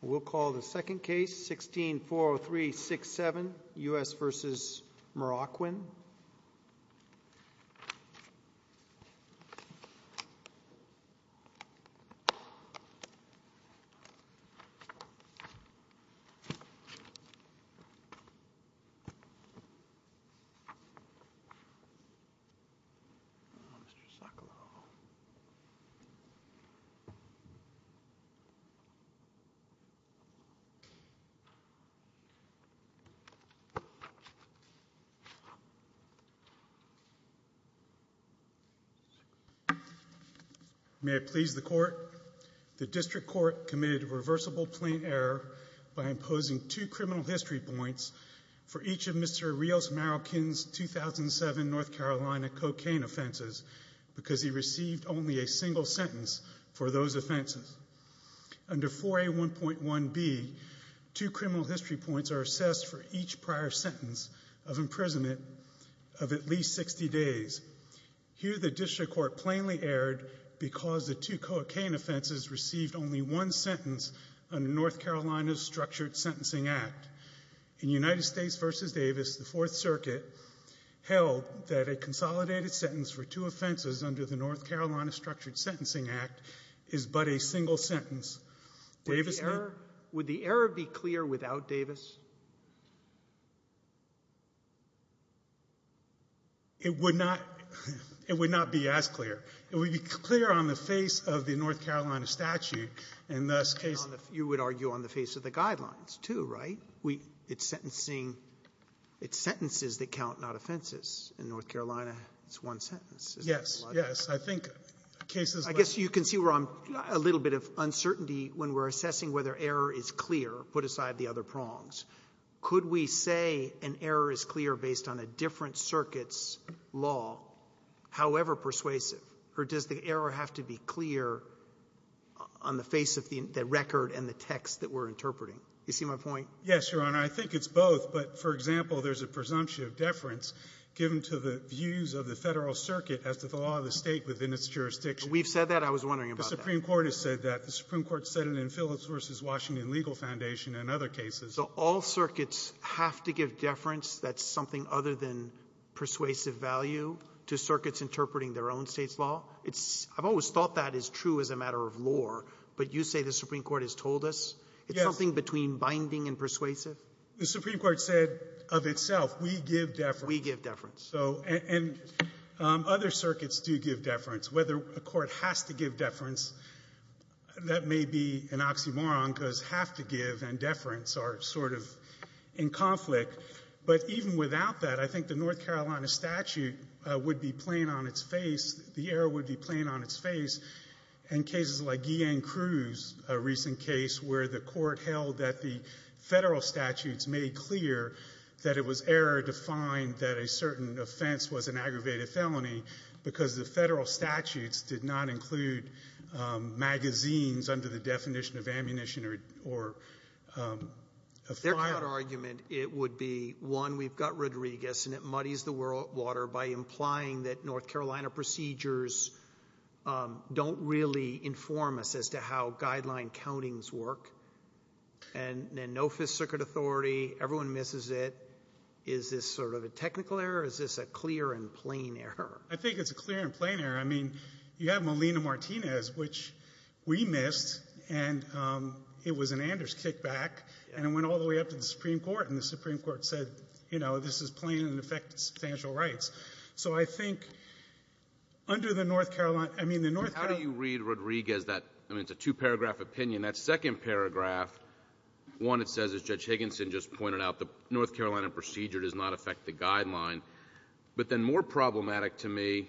We'll call the second case, 16-403-67, U.S. v. Marroquin. May it please the Court, the District Court committed a reversible plain error by imposing two criminal history points for each of Mr. Rios Marroquin's 2007 North Carolina cocaine offenses because he received only a single sentence for those offenses. Under 4A1.1B, two criminal history points are assessed for each prior sentence of imprisonment of at least 60 days. Here, the District Court plainly erred because the two cocaine offenses received only one sentence under North Carolina's Structured Sentencing Act. In United States v. Davis, the Fourth Circuit held that a consolidated sentence for two offenses under the North Carolina Structured Sentencing Act is but a single sentence. Davis may be clear. Robertson Would the error be clear without Davis? Marroquin It would not be as clear. It would be clear on the face of the North Carolina statute, and thus case of the guidelines, too, right? It's sentencing. It's sentences that count, not offenses. In North Carolina, it's one sentence. It's not a lot of cases. Robertson Yes. Yes. I think cases like that. Roberts I guess you can see where I'm a little bit of uncertainty when we're assessing whether error is clear, put aside the other prongs. Could we say an error is clear based on a different circuit's law, however persuasive? Or does the error have to be clear on the face of the record and the text that we're interpreting? You see my point? Marroquin Yes, Your Honor. I think it's both. But, for example, there's a presumption of deference given to the views of the Federal Circuit as to the law of the State within its jurisdiction. Roberts We've said that. I was wondering about that. Marroquin The Supreme Court has said that. The Supreme Court said it in Phillips v. Washington Legal Foundation and other cases. Roberts So all circuits have to give deference that's something other than persuasive value to circuits interpreting their own State's law? It's — I've always thought that is true as a matter of lore, but you say the Supreme Court has told us? Marroquin Yes. Roberts It's something between binding and persuasive? Marroquin The Supreme Court said of itself, we give deference. Roberts We give deference. Marroquin And other circuits do give deference. Whether a court has to give deference, that may be an oxymoron because have to give and deference are sort of in conflict. But even without that, I think the North Carolina statute would be plain on its face. The error would be plain on its face. In cases like Guillain-Cruz, a recent case where the court held that the Federal statutes made clear that it was error to find that a certain offense was an aggravated felony because the Federal statutes did not include magazines under the definition of ammunition or a firearm. Roberts Their current argument, it would be, one, we've got Rodriguez and it muddies the water by implying that North Carolina procedures don't really inform us as to how And then no Fifth Circuit authority. Everyone misses it. Is this sort of a technical error, or is this a clear and plain error? Marroquin I think it's a clear and plain error. I mean, you have Molina-Martinez, which we missed, and it was an Anders kickback. And it went all the way up to the Supreme Court, and the Supreme Court said, you know, this is plain and in effect substantial rights. So I think under the North Carolina — I mean, the North Carolina — One, it says, as Judge Higginson just pointed out, the North Carolina procedure does not affect the guideline. But then more problematic to me,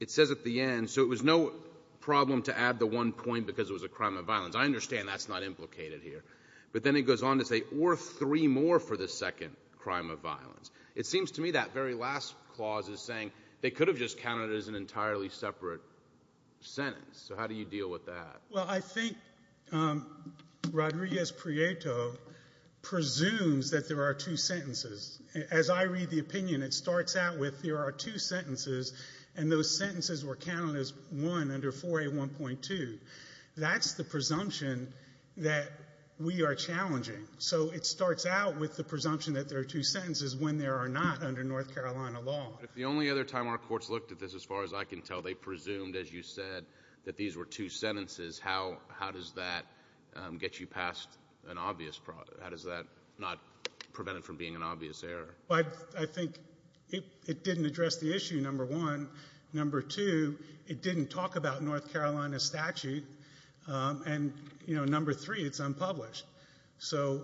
it says at the end, so it was no problem to add the one point because it was a crime of violence. I understand that's not implicated here. But then it goes on to say, or three more for the second crime of violence. It seems to me that very last clause is saying they could have just counted it as an entirely separate sentence. So how do you deal with that? Well, I think Rodriguez-Prieto presumes that there are two sentences. As I read the opinion, it starts out with there are two sentences, and those sentences were counted as one under 4A1.2. That's the presumption that we are challenging. So it starts out with the presumption that there are two sentences when there are not under North Carolina law. If the only other time our courts looked at this, as far as I can tell, they presumed, as you said, that these were two sentences. How does that get you past an obvious, how does that not prevent it from being an obvious error? Well, I think it didn't address the issue, number one. Number two, it didn't talk about North Carolina statute. And number three, it's unpublished. So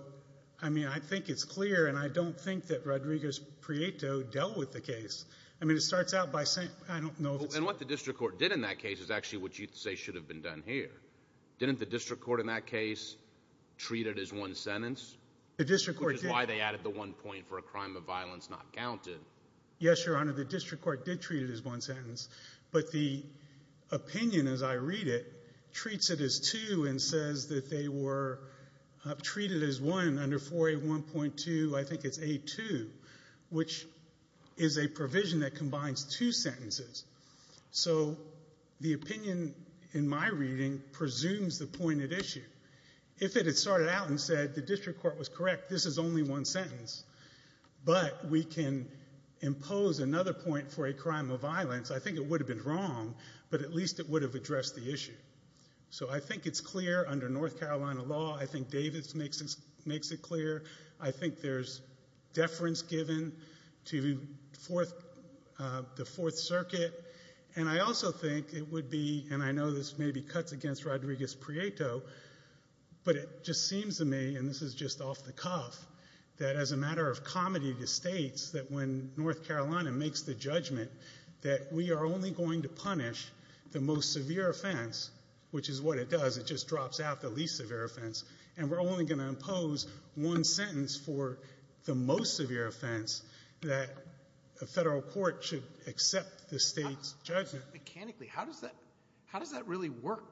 I mean, I think it's clear, and I don't think that Rodriguez-Prieto dealt with the case. I mean, it starts out by saying, I don't know if it's. And what the district court did in that case is actually what you say should have been done here. Didn't the district court in that case treat it as one sentence? The district court did. Which is why they added the one point for a crime of violence not counted. Yes, Your Honor, the district court did treat it as one sentence, but the opinion, as I read it, treats it as two and says that they were treated as one under 4A1.2, I think it's 4A2, which is a provision that combines two sentences. So the opinion in my reading presumes the pointed issue. If it had started out and said the district court was correct, this is only one sentence, but we can impose another point for a crime of violence, I think it would have been wrong, but at least it would have addressed the issue. So I think it's clear under North Carolina law. I think Davis makes it clear. I think there's deference given to the Fourth Circuit. And I also think it would be, and I know this maybe cuts against Rodriguez-Prieto, but it just seems to me, and this is just off the cuff, that as a matter of comedy to states that when North Carolina makes the judgment that we are only going to punish the most severe offense, which is what it does, it just drops out the least severe offense, and we're only going to impose one sentence for the most severe offense, that a federal court should accept the state's judgment. Mechanically, how does that really work?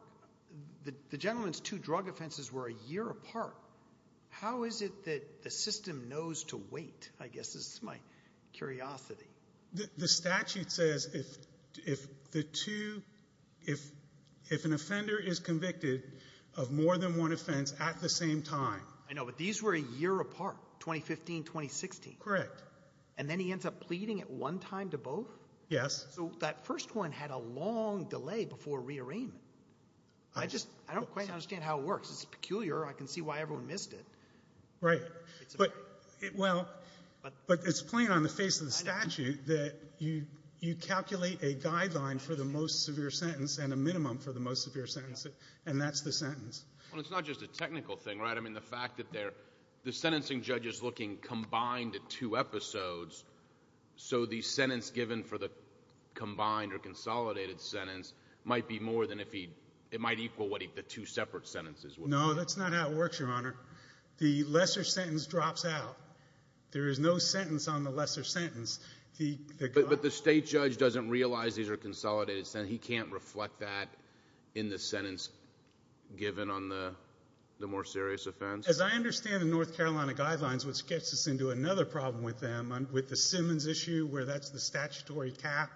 The gentleman's two drug offenses were a year apart. How is it that the system knows to wait, I guess, is my curiosity. The statute says if the two, if an offender is convicted of more than one offense at the same time. I know, but these were a year apart, 2015, 2016. Correct. And then he ends up pleading at one time to both? Yes. So that first one had a long delay before rearrangement. I just, I don't quite understand how it works. It's peculiar. I can see why everyone missed it. Right. It's peculiar. But, well, but it's plain on the face of the statute that you, you calculate a guideline for the most severe sentence and a minimum for the most severe sentence, and that's the sentence. Well, it's not just a technical thing, right? I mean, the fact that they're, the sentencing judge is looking combined at two episodes, so the sentence given for the combined or consolidated sentence might be more than if he, it might equal what the two separate sentences would be. No, that's not how it works, Your Honor. The lesser sentence drops out. There is no sentence on the lesser sentence. But the state judge doesn't realize these are consolidated sentences. He can't reflect that in the sentence given on the more serious offense? As I understand the North Carolina guidelines, which gets us into another problem with them, with the Simmons issue where that's the statutory cap,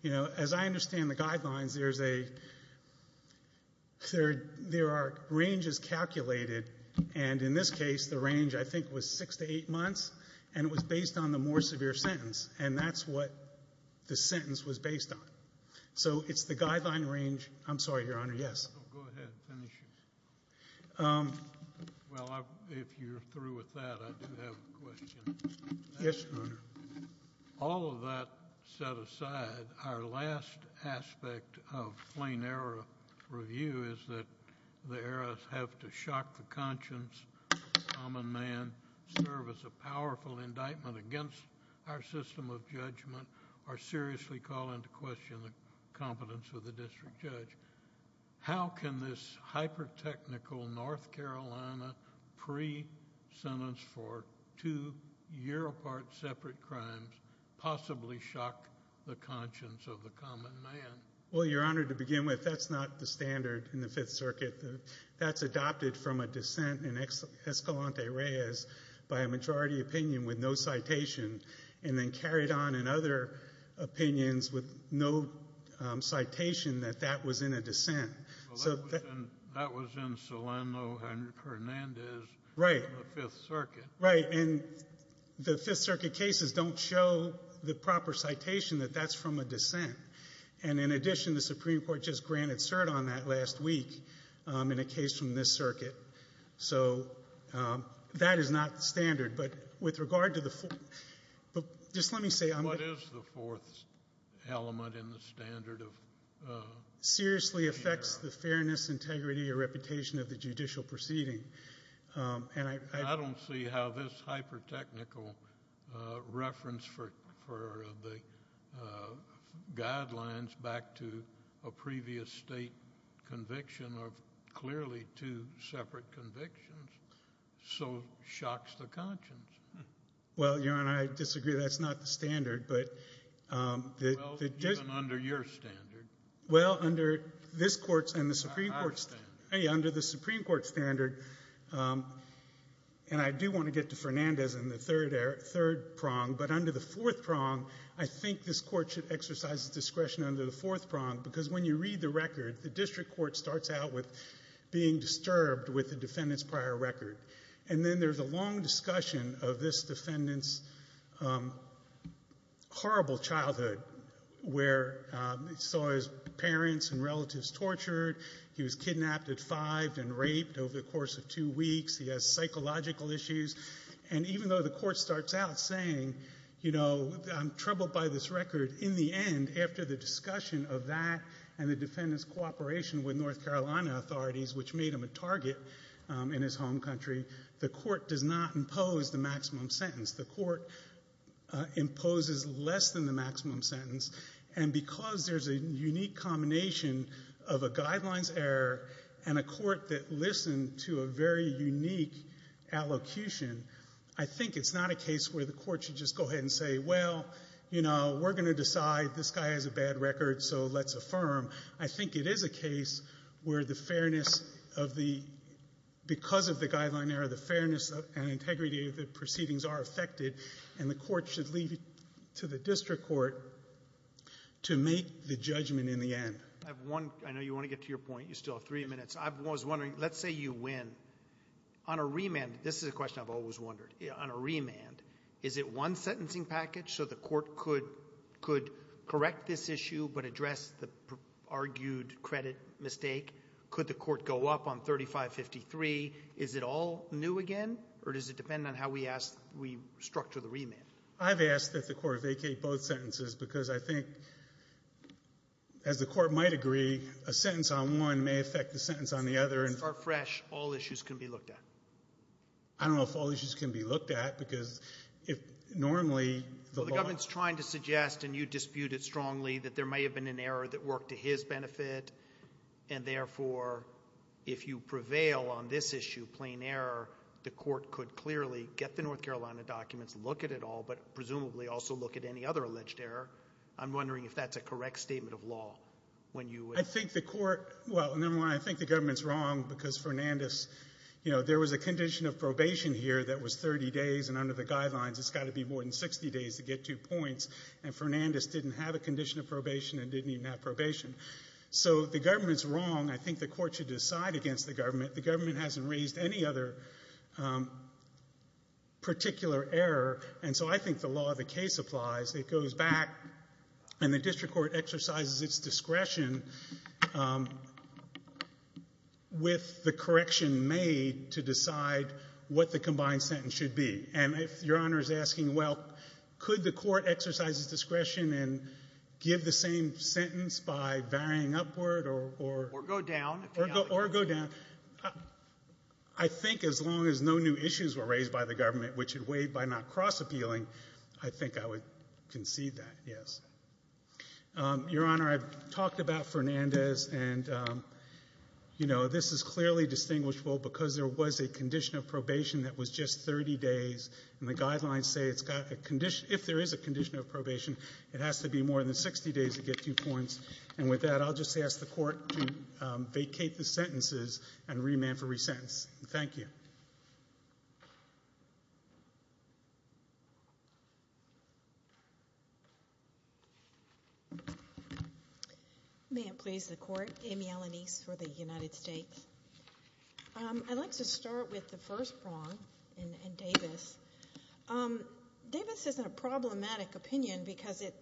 you know, as I understand the guidelines, there's a, there are ranges calculated, and in this case, the range, I think, was six to eight months, and it was based on the more severe sentence, and that's what the sentence was based on. So, it's the guideline range, I'm sorry, Your Honor, yes? Go ahead, finish. Well, if you're through with that, I do have a question. Yes, Your Honor. All of that set aside, our last aspect of plain error review is that the errors have to shock the conscience of a common man, serve as a powerful indictment against our system of judgment, or seriously call into question the competence of the district judge. How can this hyper-technical North Carolina pre-sentence for two year apart separate crimes possibly shock the conscience of the common man? Well, Your Honor, to begin with, that's not the standard in the Fifth Circuit. That's adopted from a dissent in Escalante Reyes by a majority opinion with no citation, and then carried on in other opinions with no citation that that was in a dissent. Well, that was in Solano Hernandez in the Fifth Circuit. Right. And the Fifth Circuit cases don't show the proper citation that that's from a dissent. And in addition, the Supreme Court just granted cert on that last week in a case from this circuit. So that is not the standard. But with regard to the Fourth, just let me say I'm going to... What is the Fourth element in the standard of... Seriously affects the fairness, integrity, or reputation of the judicial proceeding. And I... I don't see how this hyper-technical reference for the guidelines back to a previous state conviction of clearly two separate convictions so shocks the conscience. Well, Your Honor, I disagree. That's not the standard. But the... Well, even under your standard. Well, under this Court's and the Supreme Court's... I understand. Hey, under the Supreme Court's standard, and I do want to get to Fernandez in the third prong, but under the fourth prong, I think this Court should exercise discretion under the fourth prong. Because when you read the record, the district court starts out with being disturbed with the defendant's prior record. And then there's a long discussion of this defendant's horrible childhood where he saw his parents and relatives tortured, he was kidnapped, defied, and raped over the course of two weeks. He has psychological issues. And even though the Court starts out saying, you know, I'm troubled by this record, in the end, after the discussion of that and the defendant's cooperation with North Carolina authorities, which made him a target in his home country, the Court does not impose the maximum sentence. The Court imposes less than the maximum sentence. And because there's a unique combination of a guidelines error and a Court that listened to a very unique allocution, I think it's not a case where the Court should just go well, you know, we're going to decide this guy has a bad record, so let's affirm. I think it is a case where the fairness of the, because of the guideline error, the fairness and integrity of the proceedings are affected, and the Court should leave it to the district court to make the judgment in the end. I have one, I know you want to get to your point, you still have three minutes. I was wondering, let's say you win. On a remand, this is a question I've always wondered. On a remand, is it one sentencing package so the Court could correct this issue but address the argued credit mistake? Could the Court go up on 3553? Is it all new again, or does it depend on how we ask, we structure the remand? I've asked that the Court vacate both sentences because I think, as the Court might agree, a sentence on one may affect the sentence on the other. Start fresh. All issues can be looked at. I don't know if all issues can be looked at, because if normally the law… Well, the government's trying to suggest, and you dispute it strongly, that there may have been an error that worked to his benefit, and therefore, if you prevail on this issue, plain error, the Court could clearly get the North Carolina documents, look at it all, but presumably also look at any other alleged error. I'm wondering if that's a correct statement of law, when you would… I think the Court, well, number one, I think the government's wrong, because Fernandez, you know, there was a condition of probation here that was 30 days, and under the guidelines, it's got to be more than 60 days to get two points, and Fernandez didn't have a condition of probation and didn't even have probation. So the government's wrong. I think the Court should decide against the government. The government hasn't raised any other particular error, and so I think the law of the case applies. It goes back, and the district court exercises its discretion with the correction made to decide what the combined sentence should be. And if Your Honor is asking, well, could the court exercise its discretion and give the same sentence by varying upward or… Or go down. Or go down. I think as long as no new issues were raised by the government, which it waived by not concede that, yes. Your Honor, I've talked about Fernandez, and, you know, this is clearly distinguishable because there was a condition of probation that was just 30 days, and the guidelines say it's got a condition… If there is a condition of probation, it has to be more than 60 days to get two points. And with that, I'll just ask the Court to vacate the sentences and remand for resentence. Thank you. May it please the Court. Amy Ellenise for the United States. I'd like to start with the first prong in Davis. Davis is a problematic opinion because it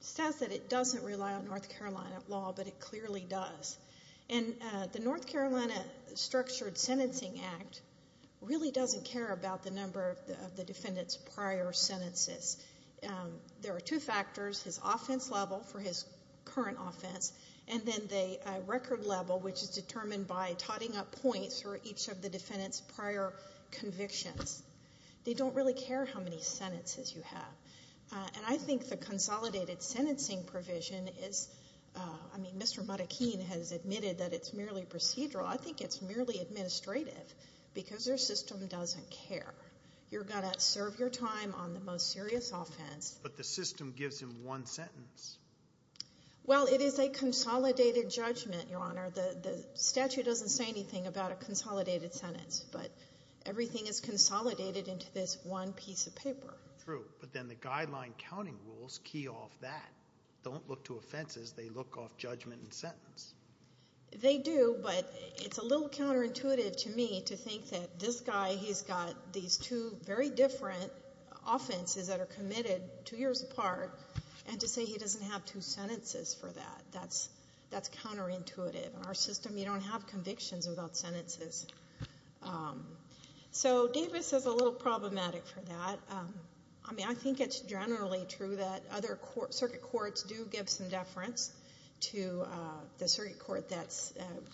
says that it doesn't rely on North Carolina law, but it clearly does. And the North Carolina Structured Sentencing Act really doesn't care about the number of the defendant's prior sentences. There are two factors, his offense level for his current offense, and then the record level, which is determined by totting up points for each of the defendant's prior convictions. They don't really care how many sentences you have. And I think the consolidated sentencing provision is… I mean, Mr. Marroquin has admitted that it's merely procedural. I think it's merely administrative because your system doesn't care. You're going to serve your time on the most serious offense. But the system gives him one sentence. Well, it is a consolidated judgment, Your Honor. The statute doesn't say anything about a consolidated sentence, but everything is consolidated into this one piece of paper. True. But then the guideline counting rules key off that. Don't look to offenses. They look off judgment and sentence. They do, but it's a little counterintuitive to me to think that this guy, he's got these two very different offenses that are committed two years apart, and to say he doesn't have two sentences for that, that's counterintuitive. Our system, you don't have convictions without sentences. So Davis is a little problematic for that. I mean, I think it's generally true that other circuit courts do give some deference to the circuit court that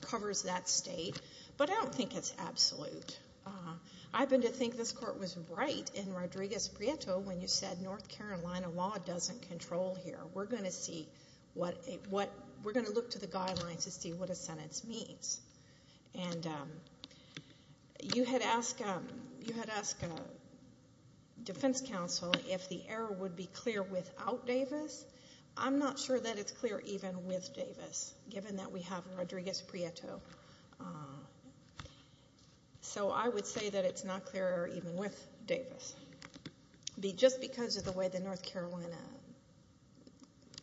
covers that state, but I don't think it's absolute. I've been to think this court was right in Rodriguez-Prieto when you said North Carolina law doesn't control here. We're going to look to the guidelines to see what a sentence means. And you had asked a defense counsel if the error would be clear without Davis. I'm not sure that it's clear even with Davis, given that we have Rodriguez-Prieto. So I would say that it's not clear even with Davis. Just because of the way the North Carolina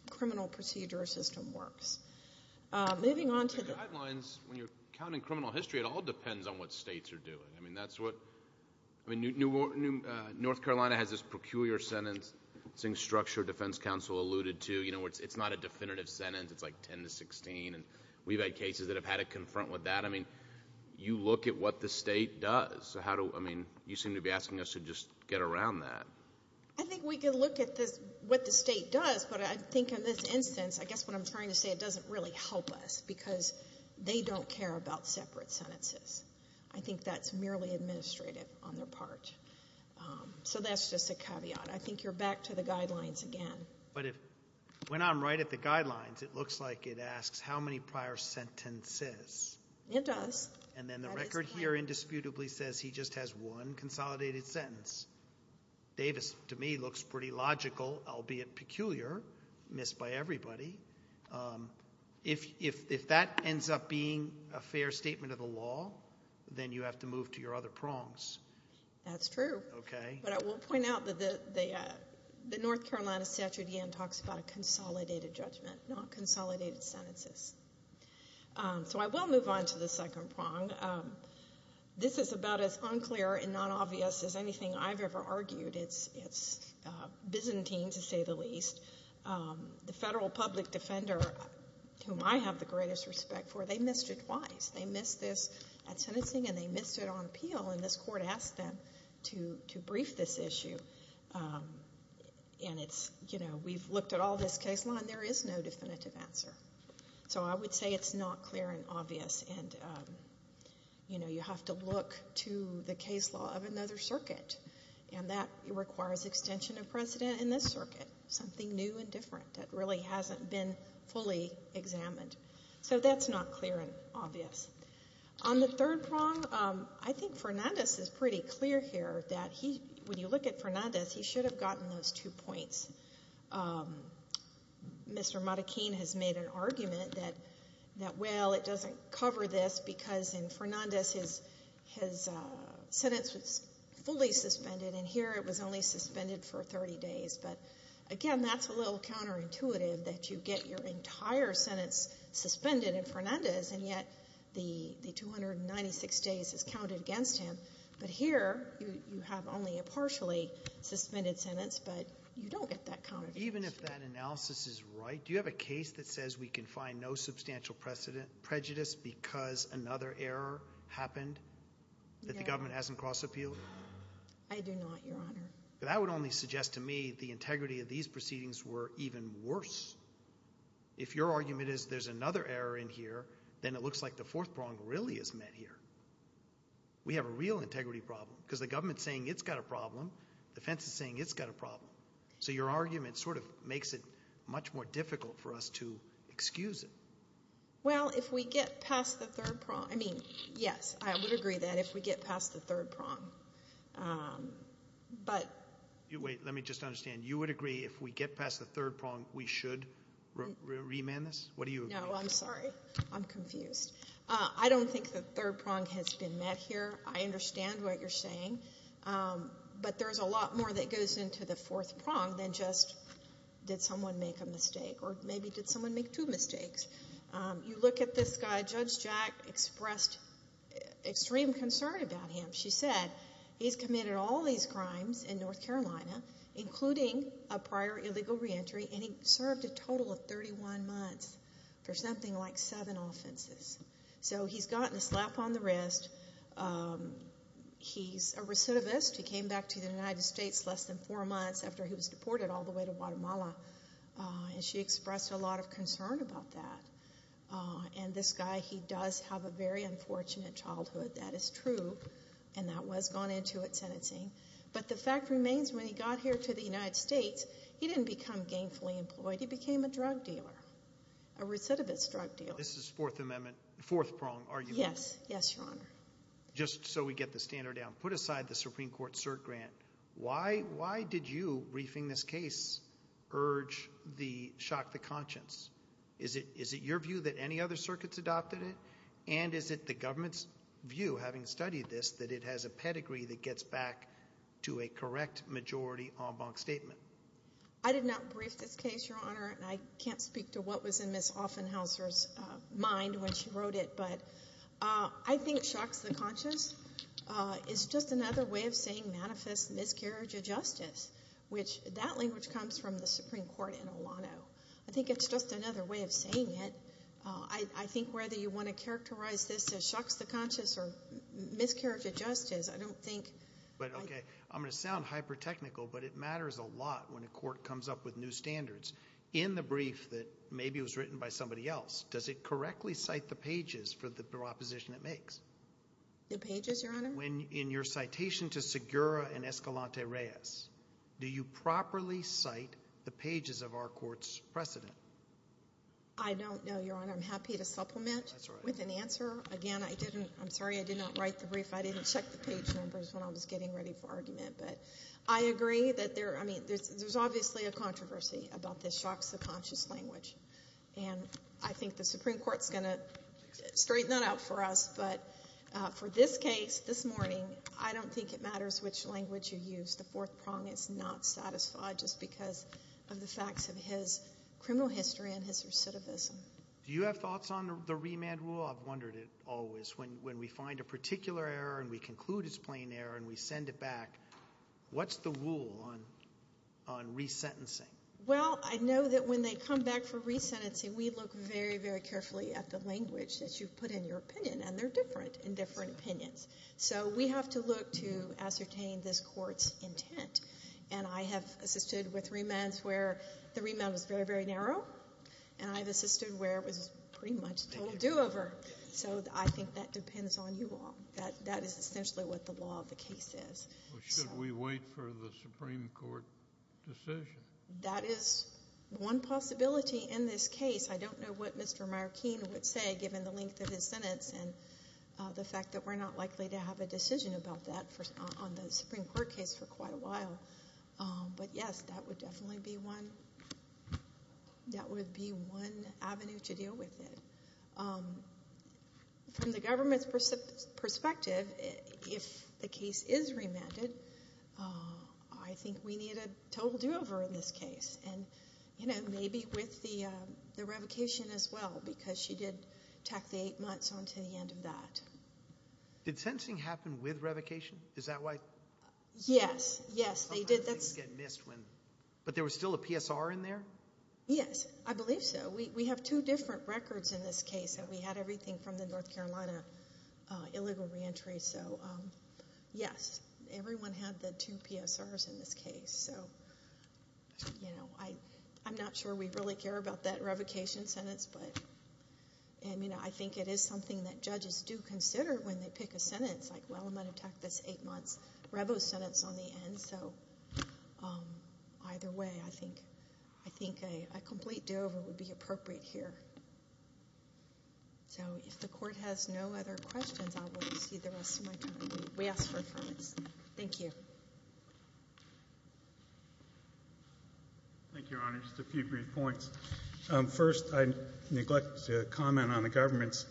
criminal procedure system works. Moving on to the... The guidelines, when you're counting criminal history, it all depends on what states are doing. I mean, that's what... I mean, North Carolina has this peculiar sentence, it's saying structure defense counsel alluded to, you know, it's not a definitive sentence, it's like 10 to 16. We've had cases that have had to confront with that. I mean, you look at what the state does, so how do... I mean, you seem to be asking us to just get around that. I think we can look at what the state does, but I think in this instance, I guess what I'm trying to say, it doesn't really help us because they don't care about separate sentences. I think that's merely administrative on their part. So that's just a caveat. I think you're back to the guidelines again. But if... when I'm right at the guidelines, it looks like it asks how many prior sentences. It does. And then the record here indisputably says he just has one consolidated sentence. Davis to me looks pretty logical, albeit peculiar, missed by everybody. If that ends up being a fair statement of the law, then you have to move to your other prongs. That's true. Okay. But I will point out that the North Carolina statute again talks about a consolidated judgment, not consolidated sentences. So I will move on to the second prong. This is about as unclear and not obvious as anything I've ever argued. It's Byzantine, to say the least. The federal public defender, whom I have the greatest respect for, they missed it twice. They missed this at sentencing, and they missed it on appeal, and this Court asked them to brief this issue. And it's, you know, we've looked at all this case law, and there is no definitive answer. So I would say it's not clear and obvious, and, you know, you have to look to the case law of another circuit, and that requires extension of precedent in this circuit, something new and different that really hasn't been fully examined. So that's not clear and obvious. On the third prong, I think Fernandez is pretty clear here that he, when you look at Fernandez, he should have gotten those two points. Mr. Marroquin has made an argument that, well, it doesn't cover this because in Fernandez his sentence was fully suspended, and here it was only suspended for 30 days. But again, that's a little counterintuitive that you get your entire sentence suspended in Fernandez, and yet the 296 days is counted against him. But here, you have only a partially suspended sentence, but you don't get that counted. Even if that analysis is right, do you have a case that says we can find no substantial precedent, prejudice because another error happened that the government hasn't crossed appeal? I do not, Your Honor. But that would only suggest to me the integrity of these proceedings were even worse. If your argument is there's another error in here, then it looks like the fourth prong really is met here. We have a real integrity problem because the government is saying it's got a problem. The defense is saying it's got a problem. So your argument sort of makes it much more difficult for us to excuse it. Well, if we get past the third prong, I mean, yes, I would agree that if we get past the third prong. But... Wait, let me just understand. You would agree if we get past the third prong, we should remand this? What do you agree? No, I'm sorry. I'm confused. I don't think the third prong has been met here. I understand what you're saying. But there's a lot more that goes into the fourth prong than just did someone make a mistake or maybe did someone make two mistakes. You look at this guy, Judge Jack expressed extreme concern about him. She said, he's committed all these crimes in North Carolina, including a prior illegal reentry and he served a total of 31 months for something like seven offenses. So he's gotten a slap on the wrist. He's a recidivist. He came back to the United States less than four months after he was deported all the way to Guatemala and she expressed a lot of concern about that. And this guy, he does have a very unfortunate childhood. That is true. And that was gone into at sentencing. But the fact remains, when he got here to the United States, he didn't become gainfully employed. He became a drug dealer, a recidivist drug dealer. This is fourth amendment, fourth prong, are you saying? Yes. Yes, Your Honor. Just so we get the standard down. Put aside the Supreme Court cert grant. Why did you, briefing this case, urge the, shock the conscience? Is it your view that any other circuits adopted it? And is it the government's view, having studied this, that it has a pedigree that gets back to a correct majority en banc statement? I did not brief this case, Your Honor, and I can't speak to what was in Ms. Offenhauser's mind when she wrote it, but I think shock the conscience is just another way of saying manifest miscarriage of justice, which that language comes from the Supreme Court in Ohlone. I think it's just another way of saying it. I think whether you want to characterize this as shock the conscience or miscarriage of justice, I don't think. But, okay, I'm going to sound hyper technical, but it matters a lot when a court comes up with new standards. In the brief that maybe was written by somebody else, does it correctly cite the pages for the proposition it makes? The pages, Your Honor? When, in your citation to Segura and Escalante Reyes, do you properly cite the pages of our Supreme Court's precedent? I don't know, Your Honor. I'm happy to supplement with an answer. Again, I didn't, I'm sorry I did not write the brief. I didn't check the page numbers when I was getting ready for argument, but I agree that there, I mean, there's obviously a controversy about this shock the conscience language, and I think the Supreme Court's going to straighten that out for us, but for this case, this morning, I don't think it matters which language you use. The fourth prong is not satisfied just because of the facts of his criminal history and his recidivism. Do you have thoughts on the remand rule? I've wondered it always. When we find a particular error, and we conclude it's plain error, and we send it back, what's the rule on resentencing? Well, I know that when they come back for resentencing, we look very, very carefully at the language that you've put in your opinion, and they're different in different opinions. So we have to look to ascertain this court's intent, and I have assisted with remands where the remand was very, very narrow, and I've assisted where it was pretty much total do-over. So I think that depends on you all. That is essentially what the law of the case is. Well, should we wait for the Supreme Court decision? That is one possibility in this case. I don't know what Mr. Markeen would say, given the length of his sentence and the fact that we're not likely to have a decision about that on the Supreme Court case for quite a while. But yes, that would definitely be one avenue to deal with it. From the government's perspective, if the case is remanded, I think we need a total do-over in this case, and maybe with the revocation as well, because she did tack the eight months on to the end of that. Did sentencing happen with revocation? Is that why? Yes. Yes, they did. But there was still a PSR in there? Yes. I believe so. We have two different records in this case, and we had everything from the North Carolina illegal re-entry, so yes. Everyone had the two PSRs in this case, so I'm not sure we really care about that revocation sentence. But I think it is something that judges do consider when they pick a sentence, like, well, I'm going to tack this eight-months revocation sentence on the end, so either way, I think a complete do-over would be appropriate here. So if the Court has no other questions, I'll wait and see the rest of my time. We ask for affirmation. Thank you. Thank you, Your Honor. Just a few brief points. First, I neglect to comment on the government's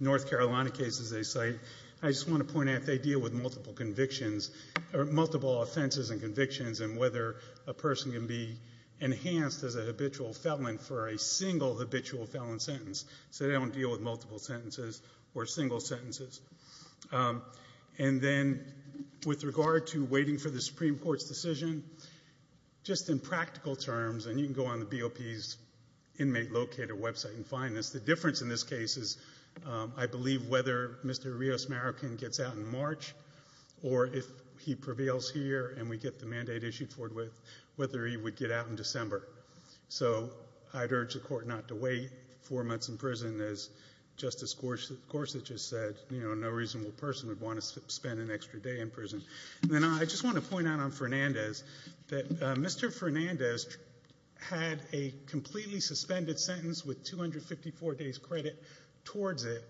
North Carolina cases they cite. I just want to point out they deal with multiple convictions or multiple offenses and convictions and whether a person can be enhanced as a habitual felon for a single habitual felon sentence. So they don't deal with multiple sentences or single sentences. And then, with regard to waiting for the Supreme Court's decision, just in practical terms and you can go on the BOP's inmate locator website and find this, the difference in this case is I believe whether Mr. Rios-Marican gets out in March or if he prevails here and we get the mandate issued for it, whether he would get out in December. So I'd urge the Court not to wait four months in prison, as Justice Gorsuch has said, no reasonable person would want to spend an extra day in prison. Then I just want to point out on Fernandez that Mr. Fernandez had a completely suspended sentence with 254 days credit towards it.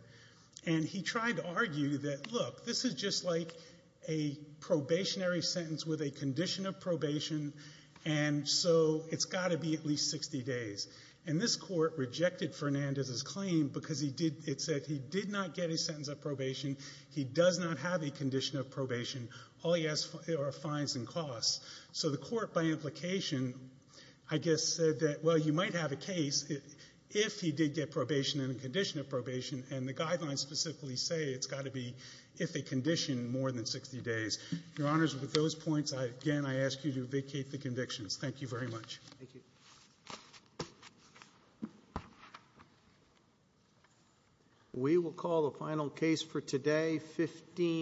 And he tried to argue that, look, this is just like a probationary sentence with a condition of probation and so it's got to be at least 60 days. And this Court rejected Fernandez's claim because it said he did not get a sentence of probation, he does not have a condition of probation, all he has are fines and costs. So the Court, by implication, I guess said that, well, you might have a case if he did get probation and a condition of probation, and the guidelines specifically say it's got to be if a condition more than 60 days. Your Honors, with those points, again, I ask you to vacate the convictions. Thank you very much. Thank you. We will call the final case for today, 15-